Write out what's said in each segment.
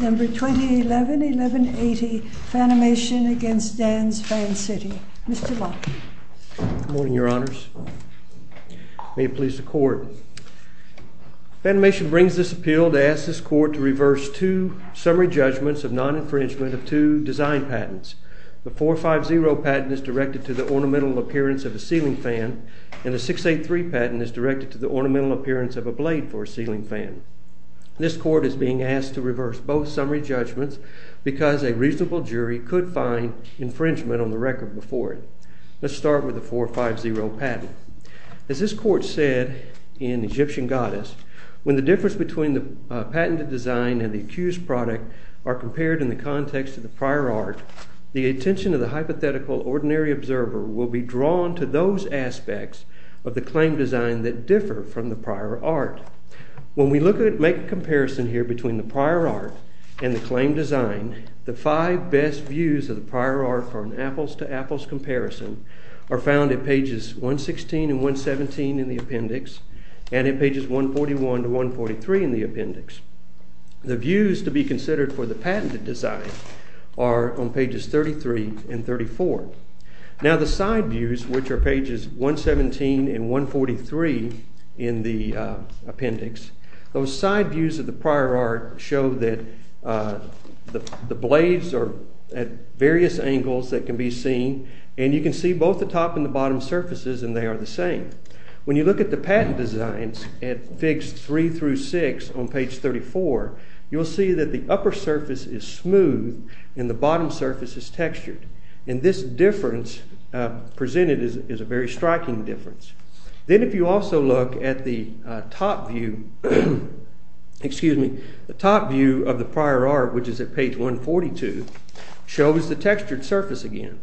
FANIMATION v. DANS FAN CITY 1180 FANIMATION v. DANS FAN CITY Because a reasonable jury could find infringement on the record before it. Let's start with the 450 patent. As this court said in Egyptian Goddess, when the difference between the patented design and the accused product are compared in the context of the prior art, the attention of the hypothetical ordinary observer will be drawn to those aspects of the claim design that differ from the prior art. When we look at it, make a comparison here between the prior art and the claim design, the five best views of the prior art from apples to apples comparison are found in pages 116 and 117 in the appendix and in pages 141 to 143 in the appendix. The views to be considered for the patented design are on pages 33 and 34. Now the side views, which are pages 117 and 143 in the appendix, those side views of the prior art show that the blades are at various angles that can be seen. And you can see both the top and the bottom surfaces, and they are the same. When you look at the patent designs at figs three through six on page 34, you'll see that the upper surface is smooth and the bottom surface is textured. And this difference presented is a very striking difference. Then if you also look at the top view of the prior art, which is at page 142, shows the textured surface again.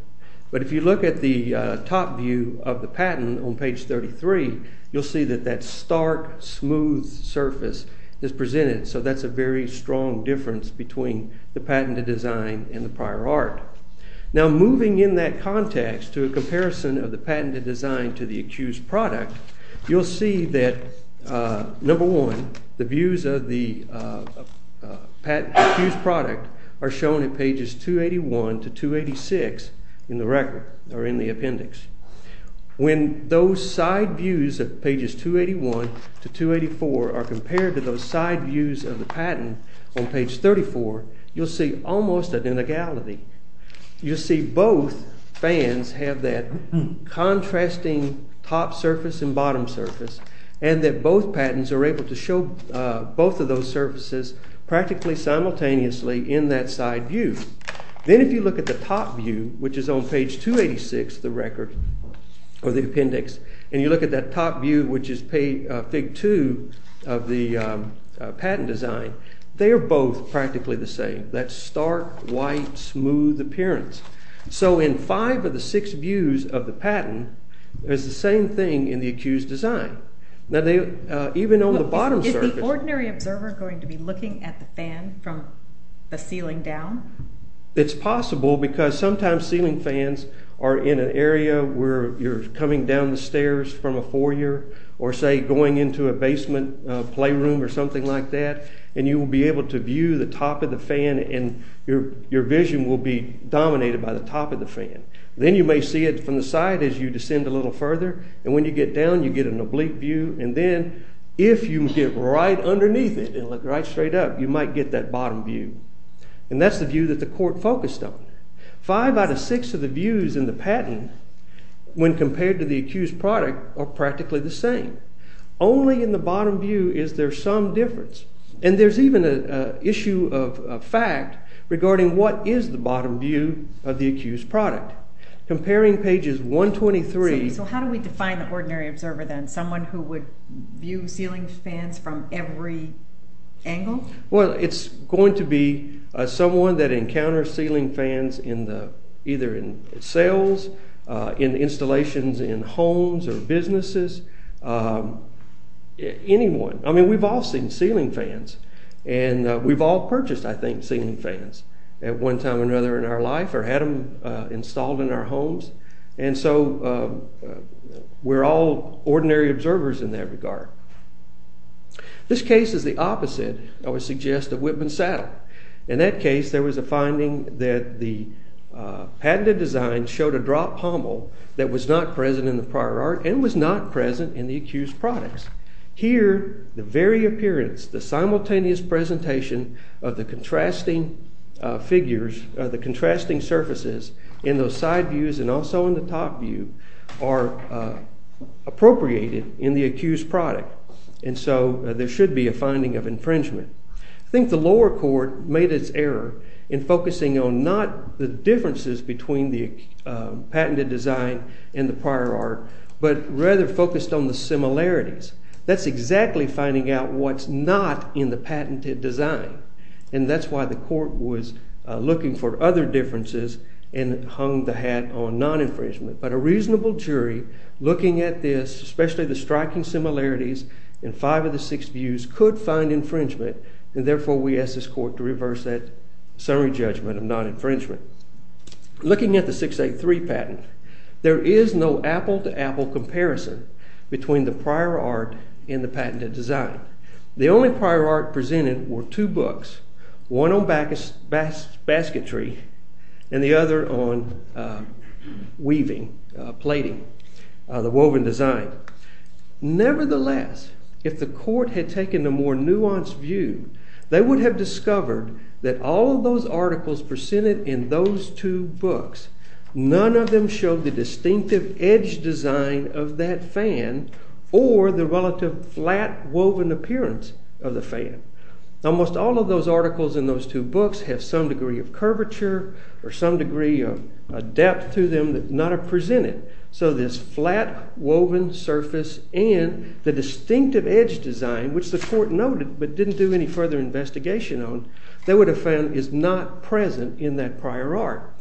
But if you look at the top view of the patent on page 33, you'll see that that stark, smooth surface is presented. So that's a very strong difference between the patented design and the prior art. Now moving in that context to a comparison of the patented design to the accused product, you'll see that, number one, the views of the accused product are shown in pages 281 to 286 in the appendix. When those side views of pages 281 to 284 are compared to those side views of the patent on page 34, you'll see almost an inegality. You'll see both fans have that contrasting top surface and bottom surface, and that both patents are able to show both of those surfaces practically simultaneously in that side view. Then if you look at the top view, which is on page 286 of the appendix, and you look at that top view, which is fig two of the patent design, they are both practically the same. That stark, white, smooth appearance. So in five of the six views of the patent, it's the same thing in the accused design. Now even on the bottom surface. Is the ordinary observer going to be looking at the fan from the ceiling down? It's possible, because sometimes ceiling fans are in an area where you're coming down the stairs from a foyer, or say, going into a basement playroom or something like that, and you will be able to view the top of the fan and your vision will be dominated by the top of the fan. Then you may see it from the side as you descend a little further, and when you get down, you get an oblique view. And then if you get right underneath it and look right straight up, you might get that bottom view. And that's the view that the court focused on. Five out of six of the views in the patent, when compared to the accused product, are practically the same. Only in the bottom view is there some difference. And there's even an issue of fact regarding what is the bottom view of the accused product. Comparing pages 123. So how do we define the ordinary observer, then? Someone who would view ceiling fans from every angle? Well, it's going to be someone that encounters ceiling fans either in sales, in installations, in homes or businesses, anyone. I mean, we've all seen ceiling fans. And we've all purchased, I think, ceiling fans at one time or another in our life or had them installed in our homes. And so we're all ordinary observers in that regard. This case is the opposite, I would suggest, of Whitman Saddle. In that case, there was a finding that the patented design showed a drop pommel that was not present in the prior art and was not present in the accused products. Here, the very appearance, the simultaneous presentation of the contrasting figures, the contrasting surfaces in those side views and also in the top view are appropriated in the accused product. And so there should be a finding of infringement. I think the lower court made its error in focusing on not the differences between the patented design and the prior art, but rather focused on the similarities. That's exactly finding out what's not in the patented design. And that's why the court was looking for other differences and hung the hat on non-infringement. But a reasonable jury, looking at this, especially the striking similarities in five of the six views, could find infringement. And therefore, we ask this court to reverse that summary judgment of non-infringement. Looking at the 683 patent, there is no apple-to-apple comparison between the prior art and the patented design. The only prior art presented were two books, one on basketry and the other on weaving, plating, the woven design. Nevertheless, if the court had taken a more nuanced view, they would have discovered that all of those articles presented in those two books, none of them showed the distinctive edge design of that fan or the relative flat woven appearance of the fan. Almost all of those articles in those two books have some degree of curvature or some degree of depth to them that not are presented. So this flat woven surface and the distinctive edge design, which the court noted but didn't do any further investigation on, they would have found is not present in that prior art.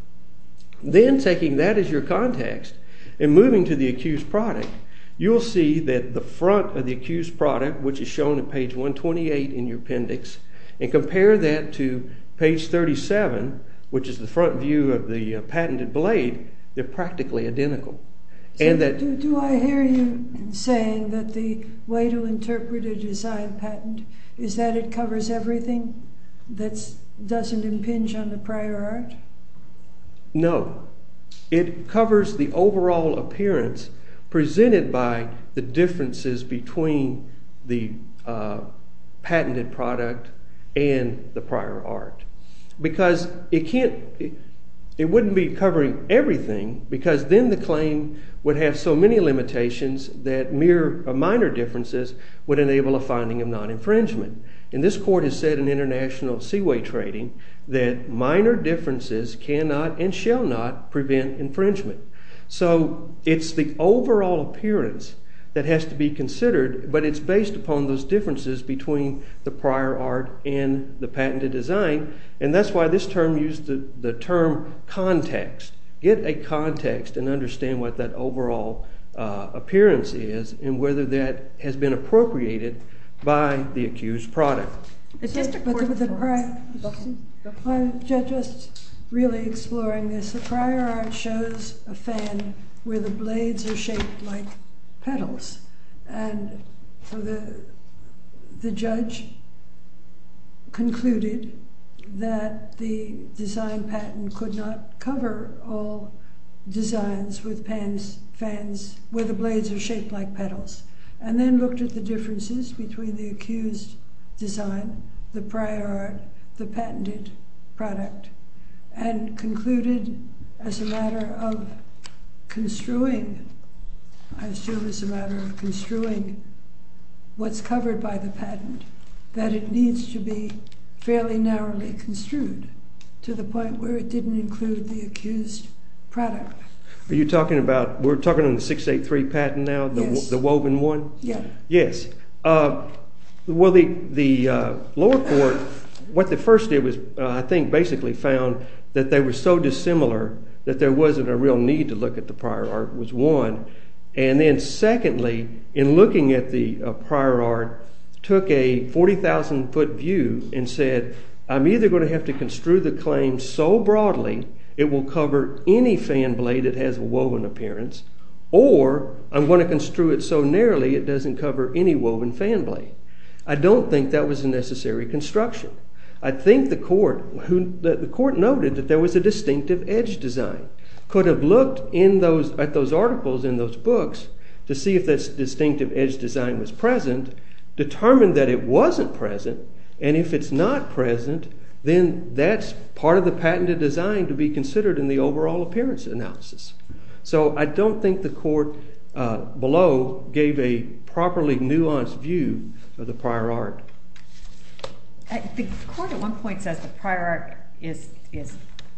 Then, taking that as your context and moving to the accused product, you'll see that the front of the accused product, which is shown at page 128 in your appendix, and compare that to page 37, which is the front view of the patented blade, they're practically identical. Do I hear you saying that the way to interpret a design patent is that it covers everything that doesn't impinge on the prior art? No. It covers the overall appearance presented by the differences between the patented product and the prior art. Because it wouldn't be covering everything, because then the claim would have so many limitations that mere minor differences would enable a finding of non-infringement. And this court has said in international seaway trading that minor differences cannot and shall not prevent infringement. So it's the overall appearance that has to be considered, but it's based upon those differences between the prior art and the patented design. And that's why this term used the term context. Get a context and understand what that overall appearance is and whether that has been appropriated by the accused product. It's just a court report. I'm just really exploring this. The prior art shows a fan where the blades are shaped like petals. And the judge concluded that the design patent could not cover all designs with fans where the blades are shaped like petals. And then looked at the differences between the accused design, the prior art, the patented product and concluded as a matter of construing, I assume as a matter of construing what's covered by the patent, that it needs to be fairly narrowly construed to the point where it didn't include the accused product. Are you talking about we're talking on the 683 patent now, the woven one? Yeah. Yes. Well, the lower court, what they first did was, I think, basically found that they were so dissimilar that there wasn't a real need to look at the prior art was one. And then secondly, in looking at the prior art, took a 40,000 foot view and said, I'm either going to have to construe the claim so broadly it will cover any fan blade that has a woven appearance, or I'm going to construe it so narrowly it doesn't cover any woven fan blade. I don't think that was a necessary construction. I think the court noted that there was a distinctive edge design. Could have looked at those articles in those books to see if this distinctive edge design was present, determined that it wasn't present. And if it's not present, then that's part of the patented design to be considered in the overall appearance analysis. So I don't think the court below gave a properly nuanced view of the prior art. The court at one point says the prior art is a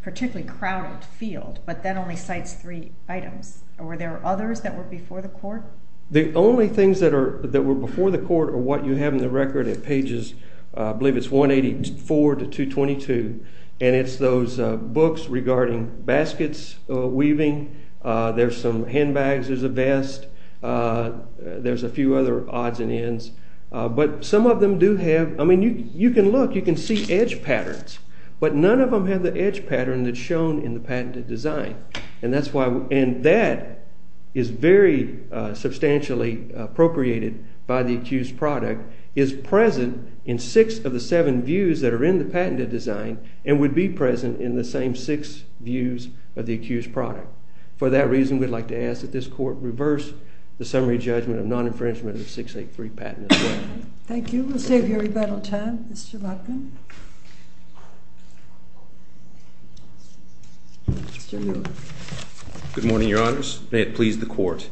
particularly crowded field, but then only cites three items. Were there others that were before the court? The only things that were before the court are what you have in the record at pages, I believe it's 184 to 222. And it's those books regarding baskets, weaving, there's some handbags, there's a vest, there's a few other odds and ends. But some of them do have, I mean, you can look, you can see edge patterns, but none of them have the edge pattern that's shown in the patented design. And that is very substantially appropriated by the accused product, is present in six of the seven views that are in the patented design and would be present in the same six views of the accused product. For that reason, we'd like to ask that this court reverse the summary judgment of non-infringement of 683 patent as well. Thank you. We'll save you rebuttal time. Mr. Lachman. Good morning, Your Honors. May it please the court.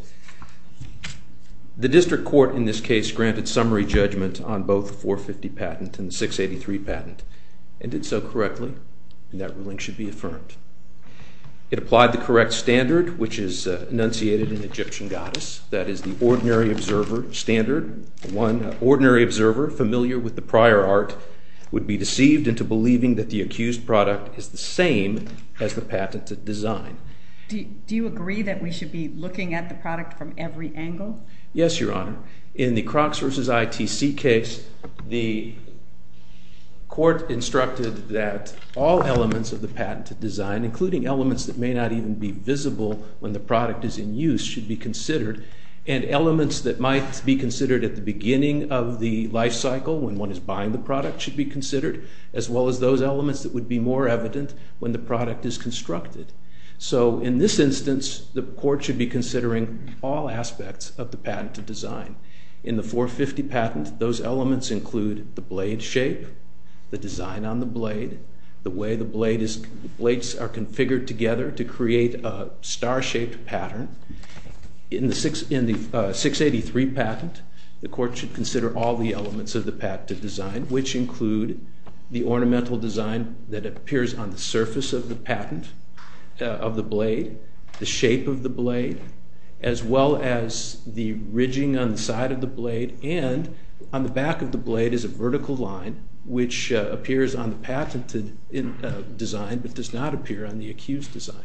The district court in this case granted summary judgment on both 450 patent and the 683 patent, and did so correctly. And that ruling should be affirmed. It applied the correct standard, which is enunciated in Egyptian goddess, that is the ordinary observer standard. One ordinary observer familiar with the prior art would be deceived into believing that the accused product is the same as the patented design. Do you agree that we should be looking at the product from every angle? Yes, Your Honor. In the Crocs versus ITC case, the court instructed that all elements of the patented design, including elements that may not even be visible when the product is in use, should be considered. And elements that might be considered at the beginning of the lifecycle, when one is buying the product, should be considered, as well as those elements that would be more evident when the product is constructed. So in this instance, the court should be considering all aspects of the patented design. In the 450 patent, those elements include the blade shape, the design on the blade, the way the blades are configured together to create a star-shaped pattern. In the 683 patent, the court should consider all the elements of the patented design, which include the ornamental design that appears on the surface of the patent, of the blade, the shape of the blade, as well as the ridging on the side of the blade. And on the back of the blade is a vertical line, which appears on the patented design, but does not appear on the accused design.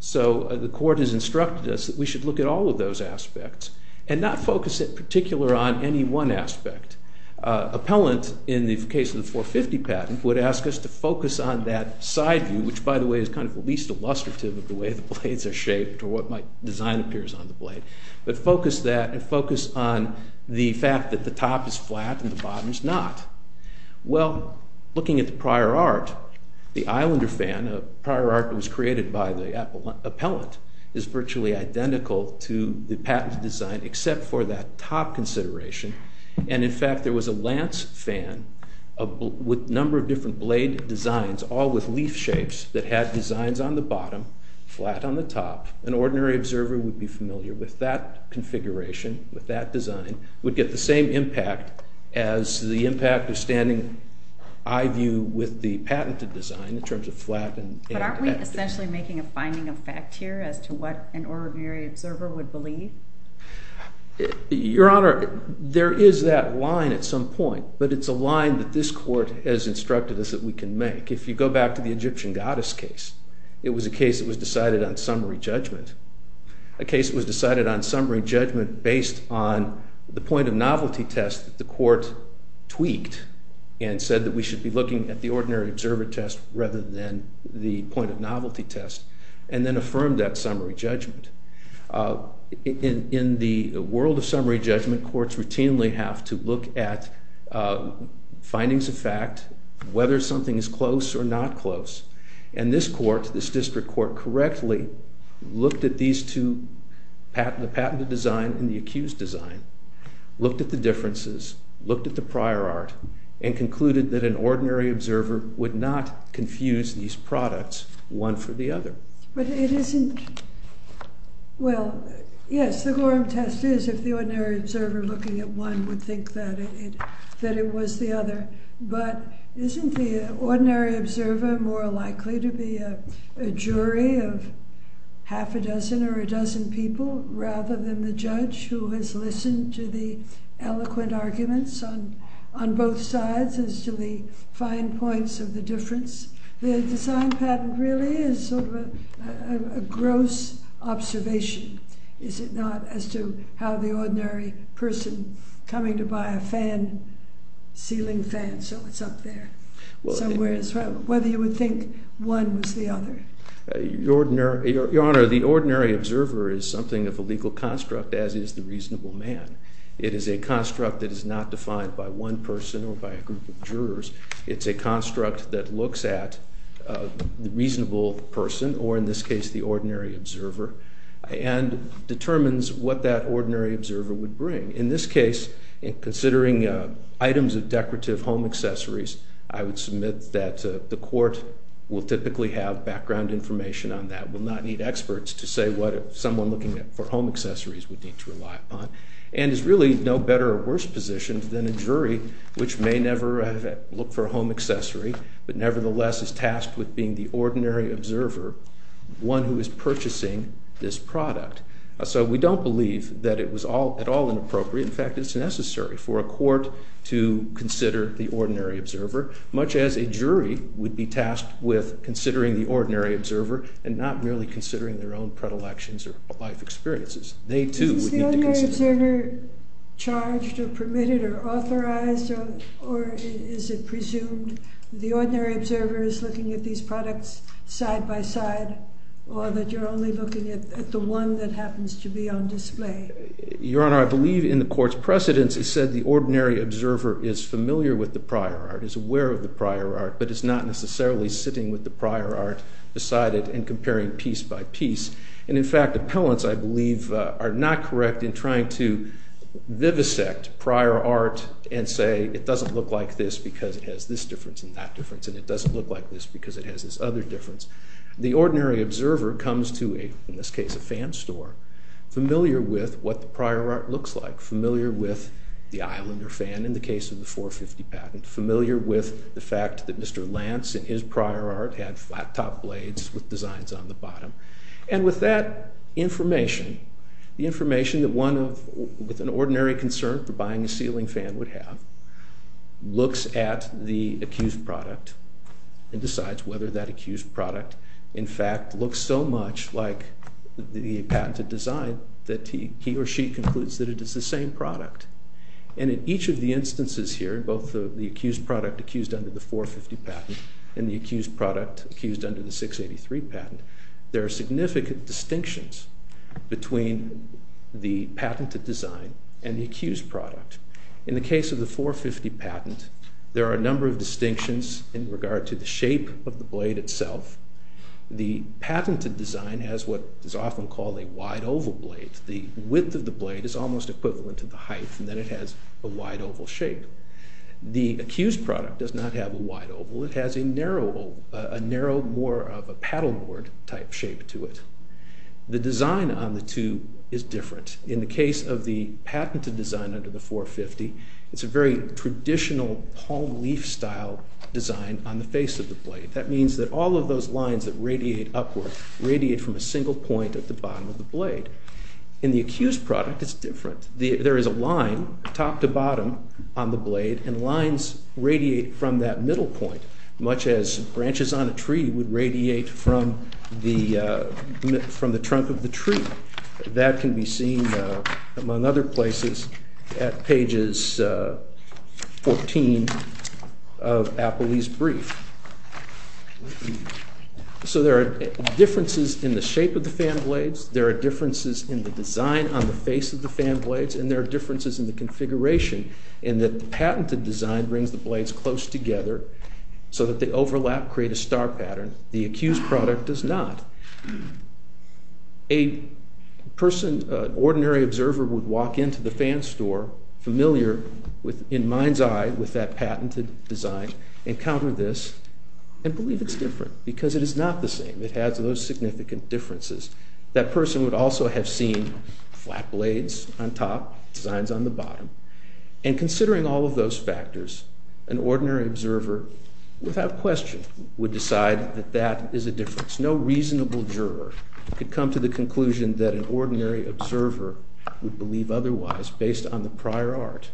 So the court has instructed us that we should look at all of those aspects, and not focus in particular on any one aspect. Appellant, in the case of the 450 patent, would ask us to focus on that side view, which, by the way, is kind of the least illustrative of the way the blades are shaped, or what design appears on the blade. But focus that, and focus on the fact that the top is flat and the bottom is not. Well, looking at the prior art, the Islander fan, a prior art that was created by the appellant, is virtually identical to the patented design, except for that top consideration. And in fact, there was a lance fan with a number of different blade designs, all with leaf shapes, that had designs on the bottom, flat on the top. An ordinary observer would be familiar with that configuration, with that design, would get the same impact as the impact of standing eye view with the patented design, in terms of flat and active. But aren't we essentially making a finding of fact here, as to what an ordinary observer would believe? Your Honor, there is that line at some point, but it's a line that this court has instructed us that we can make. If you go back to the Egyptian goddess case, it was a case that was decided on summary judgment. A case was decided on summary judgment based on the point of novelty test the court tweaked and said that we should be looking at the ordinary observer test, rather than the point of novelty test, and then affirmed that summary judgment. In the world of summary judgment, courts routinely have to look at findings of fact, whether something is close or not close. And this court, this district court, correctly looked at these two, the patented design and the accused design, looked at the differences, looked at the prior art, and concluded that an ordinary observer would not confuse these products, one for the other. But it isn't, well, yes, the Gorham test is if the ordinary observer looking at one would think that it was the other. But isn't the ordinary observer more likely to be a jury of half a dozen or a dozen people, rather than the judge who has listened to the eloquent arguments on both sides as to the fine points of the difference? The design patent really is sort of a gross observation, is it not, as to how the ordinary person coming to buy a ceiling fan, so it's up there, whether you would think one was the other. Your Honor, the ordinary observer is something of a legal construct, as is the reasonable man. It is a construct that is not defined by one person or by a group of jurors. It's a construct that looks at the reasonable person, or in this case, the ordinary observer, and determines what that ordinary observer would bring. In this case, considering items of decorative home accessories, I would submit that the court will typically have background information on that, will not need experts to say what someone looking for home accessories would need to rely upon, and is really no better or worse positioned than a jury, which may never look for a home accessory, but nevertheless is tasked with being the ordinary observer, one who is purchasing this product. So we don't believe that it was at all inappropriate. In fact, it's necessary for a court to consider the ordinary observer, much as a jury would be tasked with considering the ordinary observer and not merely considering their own predilections or life experiences. They, too, would need to consider that. Is the ordinary observer charged or permitted or authorized, or is it presumed the ordinary observer is looking at these products side by side, or that you're only looking at the one that happens to be on display? Your Honor, I believe in the court's precedence it said the ordinary observer is familiar with the prior art, is aware of the prior art, but is not necessarily sitting with the prior art beside it and comparing piece by piece. And in fact, appellants, I believe, are not correct in trying to vivisect prior art and say it doesn't look like this because it has this difference and that difference, and it doesn't look like this because it has this other difference. The ordinary observer comes to, in this case, a fan store, familiar with what the prior art looks like, familiar with the Islander fan in the case of the 450 patent, familiar with the fact that Mr. Lance and his prior art had flat top blades with designs on the bottom. And with that information, the information that one with an ordinary concern for buying a ceiling fan would have, looks at the accused product and decides whether that accused product, in fact, looks so much like the patented design that he or she concludes that it is the same product. And in each of the instances here, both the accused product accused under the 450 patent and the accused product accused under the 683 patent, there are significant distinctions between the patented design and the accused product. In the case of the 450 patent, there are a number of distinctions in regard to the shape of the blade itself. The patented design has what is often called a wide oval blade. The width of the blade is almost equivalent to the height, and then it has a wide oval shape. The accused product does not have a wide oval. It has a narrow, more of a paddleboard type shape to it. The design on the two is different. In the case of the patented design under the 450, it's a very traditional palm leaf style design on the face of the blade. That means that all of those lines that radiate upward radiate from a single point at the bottom of the blade. In the accused product, it's different. There is a line top to bottom on the blade, and lines radiate from that middle point, much as branches on a tree would radiate from the trunk of the tree. That can be seen, among other places, at pages 14 of Apolli's brief. So there are differences in the shape of the fan blades. There are differences in the design on the face of the fan blades. And there are differences in the configuration, in that the patented design brings the blades close together so that they overlap, create a star pattern. The accused product does not. A person, an ordinary observer, would walk into the fan store familiar in mind's eye with that patented design, encounter this, and believe it's different, because it is not the same. It has those significant differences. That person would also have seen flat blades on top, designs on the bottom. And considering all of those factors, an ordinary observer, without question, would decide that that is a difference. It's no reasonable juror who could come to the conclusion that an ordinary observer would believe otherwise, based on the prior art.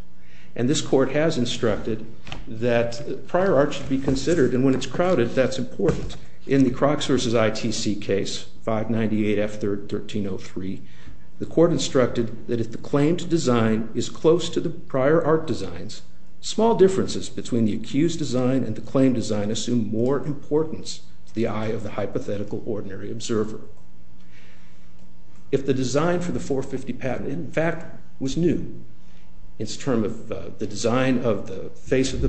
And this court has instructed that prior art should be considered. And when it's crowded, that's important. In the Crocks versus ITC case, 598F1303, the court instructed that if the claimed design is close to the prior art designs, small differences between the accused design and the claimed design assume more importance to the eye of the hypothetical ordinary observer. If the design for the 450 patent, in fact, was new, its term of the design of the face of the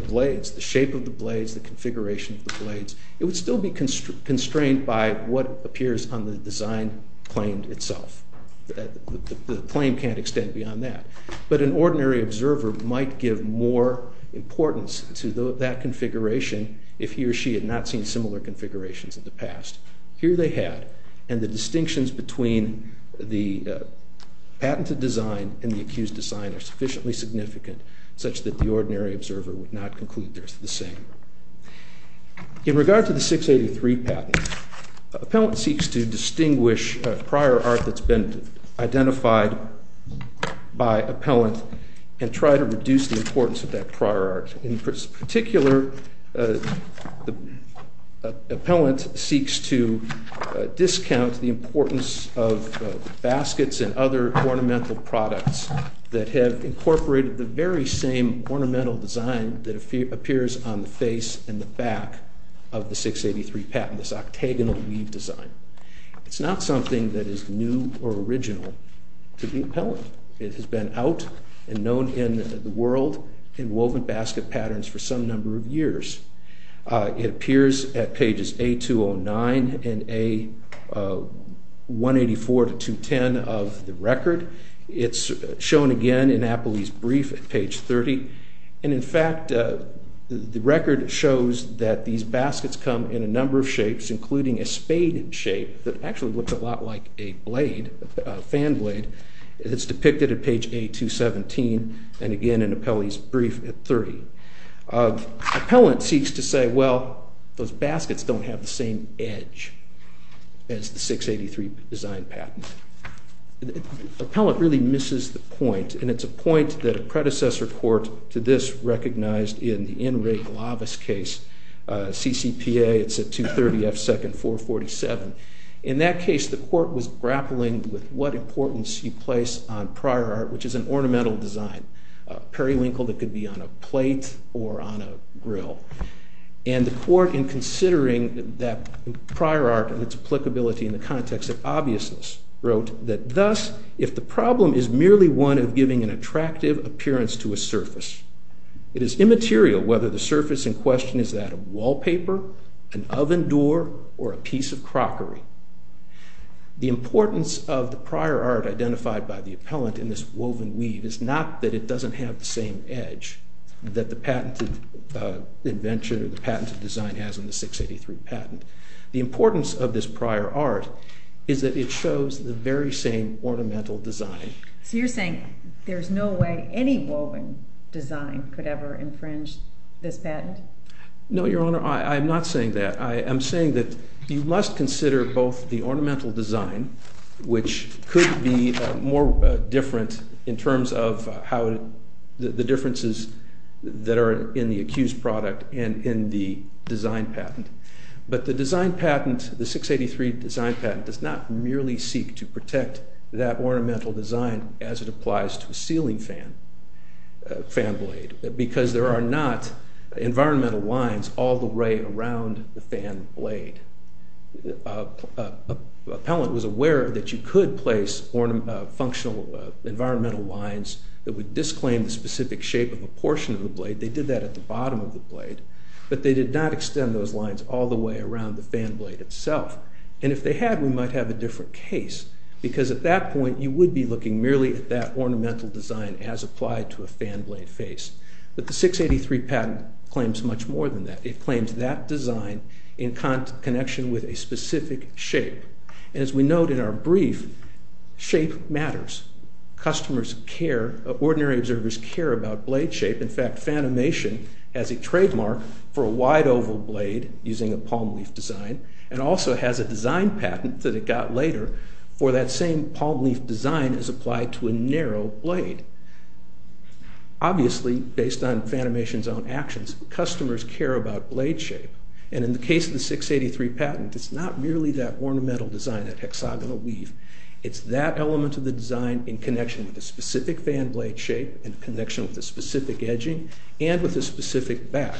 blades, the shape of the blades, the configuration of the blades, it would still be constrained by what appears on the design claimed itself. The claim can't extend beyond that. But an ordinary observer might give more importance to that configuration if he or she had not seen similar configurations in the past. Here they had. And the distinctions between the patented design and the accused design are sufficiently significant, such that the ordinary observer would not conclude they're the same. In regard to the 683 patent, appellant seeks to distinguish prior art that's been identified by appellant and try to reduce the importance of that prior art. In particular, the appellant seeks to discount the importance of baskets and other ornamental products that have incorporated the very same ornamental design that appears on the face and the back of the 683 patent, this octagonal weave design. It's not something that is new or original to the appellant. It has been out and known in the world in woven basket patterns for some number of years. It appears at pages A209 and A184 to 210 of the record. It's shown again in Appley's brief at page 30. And in fact, the record shows that these baskets come in a number of shapes, including a spade shape that actually looks a lot like a fan blade. It's depicted at page A217, and again in Appley's brief at 30. Appellant seeks to say, well, those baskets don't have the same edge as the 683 design patent. Appellant really misses the point. And it's a point that a predecessor court to this recognized in the N. Ray Glavis case, CCPA. It's at 230 F. Second, 447. In that case, the court was grappling with what importance you place on prior art, which is an ornamental design, periwinkle that could be on a plate or on a grill. And the court, in considering that prior art and its applicability in the context of obviousness, wrote that, thus, if the problem is merely one of giving an attractive appearance to a surface, it is immaterial whether the surface in question is that of wallpaper, an oven door, or a piece of crockery. The importance of the prior art identified by the appellant in this woven weave is not that it doesn't have the same edge that the patented invention or the patented design has in the 683 patent. The importance of this prior art is that it shows the very same ornamental design. So you're saying there's no way any woven design could ever infringe this patent? No, Your Honor, I'm not saying that. I am saying that you must consider both the ornamental design, which could be more different in terms of the differences that are in the accused product and in the design patent. But the design patent, the 683 design patent, does not merely seek to protect that ornamental design as it applies to a ceiling fan blade, because there are not environmental lines all the way around the fan blade. Appellant was aware that you could place functional environmental lines that would disclaim the specific shape of a portion of the blade. They did that at the bottom of the blade. But they did not extend those lines all the way around the fan blade itself. And if they had, we might have a different case. Because at that point, you would be looking merely at that ornamental design as applied to a fan blade face. But the 683 patent claims much more than that. It claims that design in connection with a specific shape. And as we note in our brief, shape matters. Customers care. Ordinary observers care about blade shape. In fact, Fanimation has a trademark for a wide oval blade using a palm leaf design and also has a design patent that it got later for that same palm leaf design as applied to a narrow blade. Obviously, based on Fanimation's own actions, customers care about blade shape. And in the case of the 683 patent, it's not merely that ornamental design, that hexagonal leaf. It's that element of the design in connection with a specific fan blade shape, in connection with a specific edging, and with a specific back.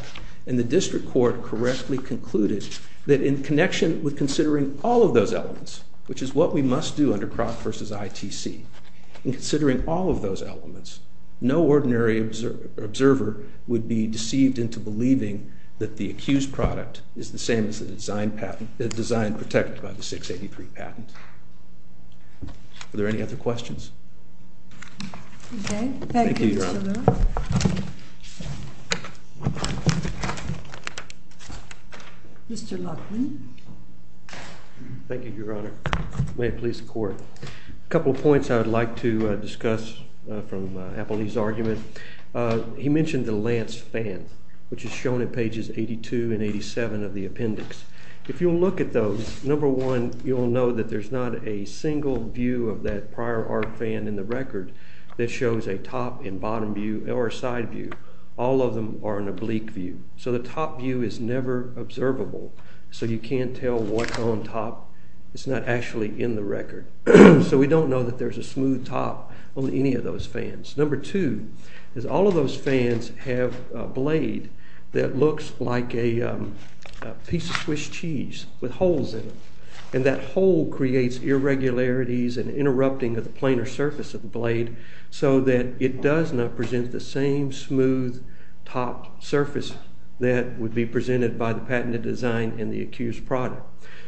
And the district court correctly concluded that in connection with considering all of those elements, which is what we must do under Kroc versus ITC, in considering all of those elements, no ordinary observer would be deceived into believing that the accused product is the same as the design protected by the 683 patent. Are there any other questions? OK. Thank you, Mr. Lewis. Thank you, Your Honor. Mr. Loughlin. Thank you, Your Honor. May it please the court. A couple of points I would like to discuss from Appleby's argument. He mentioned the lance fan, which is shown in pages 82 and 87 of the appendix. If you look at those, number one, you'll know that there's not a single view of that prior art fan in the record that shows a top and bottom view, or a side view. All of them are an oblique view. So the top view is never observable. So you can't tell what's on top. It's not actually in the record. So we don't know that there's a smooth top on any of those fans. Number two is all of those fans have a blade that looks like a piece of Swiss cheese with holes in it. And that hole creates irregularities and interrupting of the planar surface of the blade, so that it does not present the same smooth top surface that would be presented by the patented design and the accused product.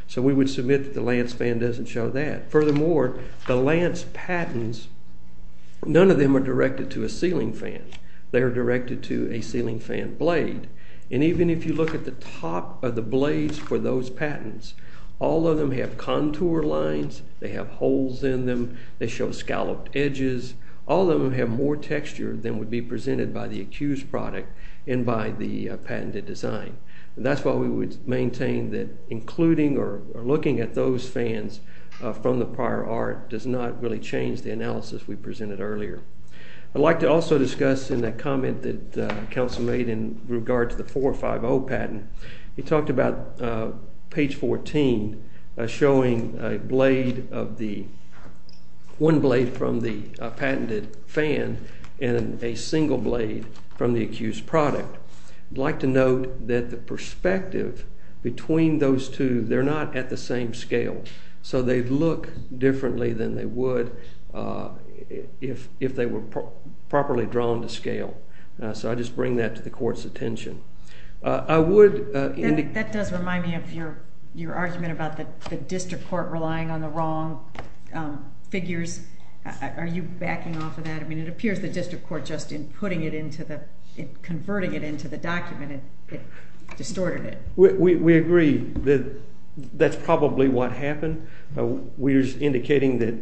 So we would submit that the lance fan doesn't show that. Furthermore, the lance patents, none of them are directed to a ceiling fan. They are directed to a ceiling fan blade. And even if you look at the top of the blades for those patents, all of them have contour lines. They have holes in them. They show scalloped edges. All of them have more texture than would be presented by the accused product and by the patented design. And that's why we would maintain that including or looking at those fans from the prior art does not really change the analysis we presented earlier. I'd like to also discuss in that comment that Council made in regard to the 450 patent, he talked about page 14 showing one blade from the patented fan and a single blade from the accused product. I'd like to note that the perspective between those two, they're not at the same scale. So they look differently than they would if they were properly drawn to scale. So I just bring that to the court's attention. That does remind me of your argument about the district court relying on the wrong figures. Are you backing off of that? I mean, it appears the district court just in converting it into the document, it distorted it. We agree that that's probably what happened. We're just indicating that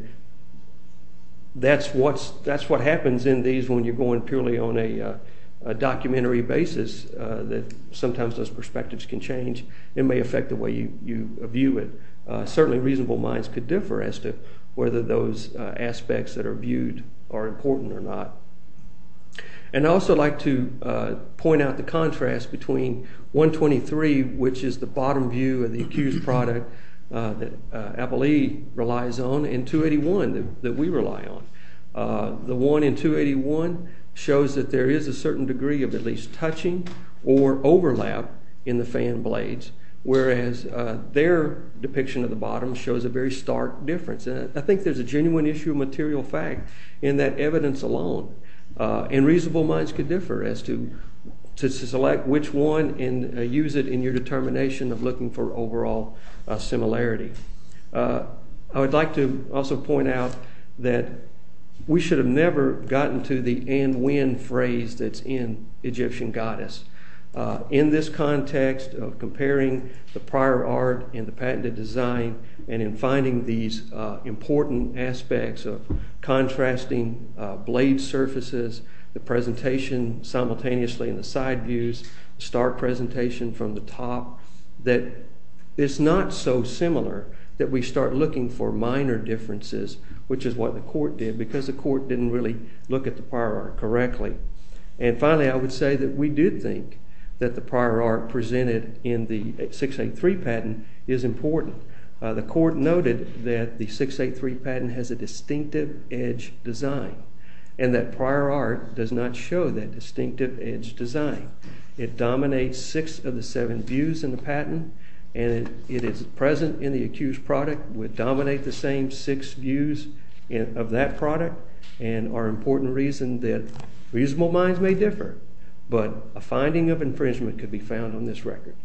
that's what happens in these when you're going purely on a documentary basis. That sometimes those perspectives can change. It may affect the way you view it. Certainly reasonable minds could differ as to whether those aspects that are viewed are important or not. And I'd also like to point out the contrast between 123, which is the bottom view of the accused product that Appalee relies on, and 281 that we rely on. The one in 281 shows that there is a certain degree of at least touching or overlap in the fan blades, whereas their depiction of the bottom shows a very stark difference. I think there's a genuine issue of material fact in that evidence alone. And reasonable minds could differ as to select which one and use it in your determination of looking for overall similarity. I would like to also point out that we should have never gotten to the and when phrase that's in Egyptian goddess. In this context of comparing the prior art and the patented design, and in finding these important aspects of contrasting blade surfaces, the presentation simultaneously in the side views, stark presentation from the top, that it's not so similar that we start looking for minor differences, which is what the court did, because the court didn't really look at the prior art correctly. And finally, I would say that we do think that the prior art presented in the 683 patent is important. The court noted that the 683 patent has a distinctive edge design, and that prior art does not show that distinctive edge design. It dominates six of the seven views in the patent, and it is present in the accused product, would dominate the same six views of that product, and our important reason that reasonable minds may differ, but a finding of infringement could be found on this record.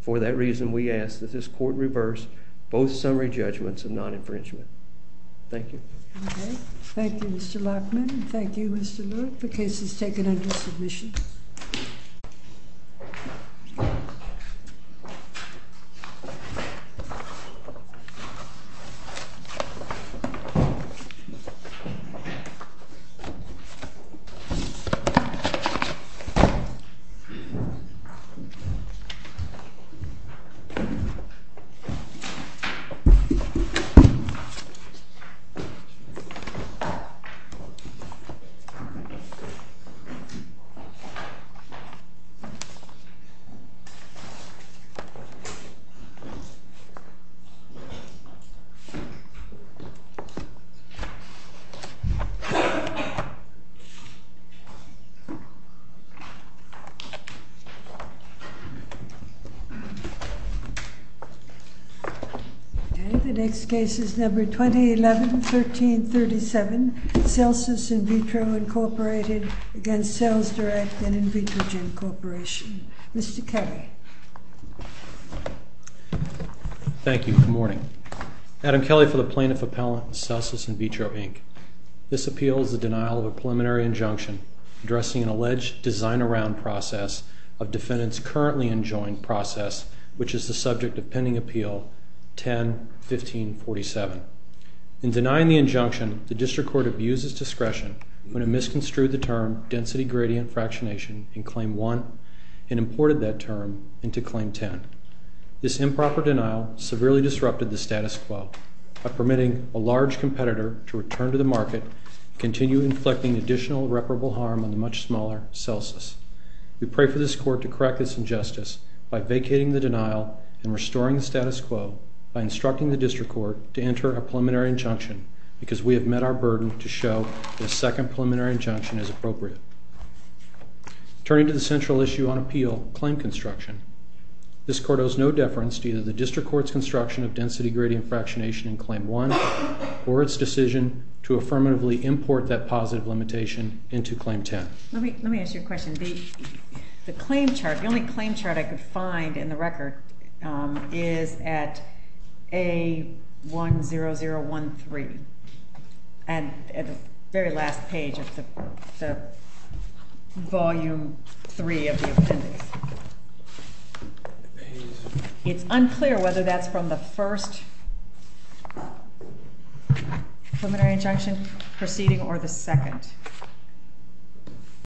For that reason, we ask that this court reverse both summary judgments of non-infringement. Thank you. Thank you, Mr. Lachman. Thank you, Mr. Lewitt. The case is taken under submission. Thank you. Thank you. The next case is number 2011-1337, Celsus In Vitro Incorporated against Sales Direct and In Vitro Gin Corporation. Mr. Kelly. Thank you. Good morning. Adam Kelly for the plaintiff appellant, Celsus In Vitro, Inc. This appeal is the denial of a preliminary injunction addressing an alleged design-around process of defendants' currently enjoined process, which is the subject of pending appeal 10-1547. In denying the injunction, the district court abuses discretion when it misconstrued the term density gradient fractionation in claim 1 and imported that term into claim 10. This improper denial severely disrupted the status quo by permitting a large competitor to return to the market, continue inflicting additional reparable harm on the much smaller Celsus. We pray for this court to correct this injustice by vacating the denial and restoring the status quo by instructing the district court to enter a preliminary injunction because we have met our burden to show the second preliminary injunction is appropriate. Turning to the central issue on appeal, claim construction, this court owes no deference to either the district court's construction of density gradient fractionation in claim 1 or its decision to affirmatively import that positive limitation into claim 10. Let me ask you a question. The claim chart, the only claim chart I could find in the record, is at A10013, at the very last page of the volume 3 of the appendix. It's unclear whether that's from the first preliminary injunction proceeding or the second.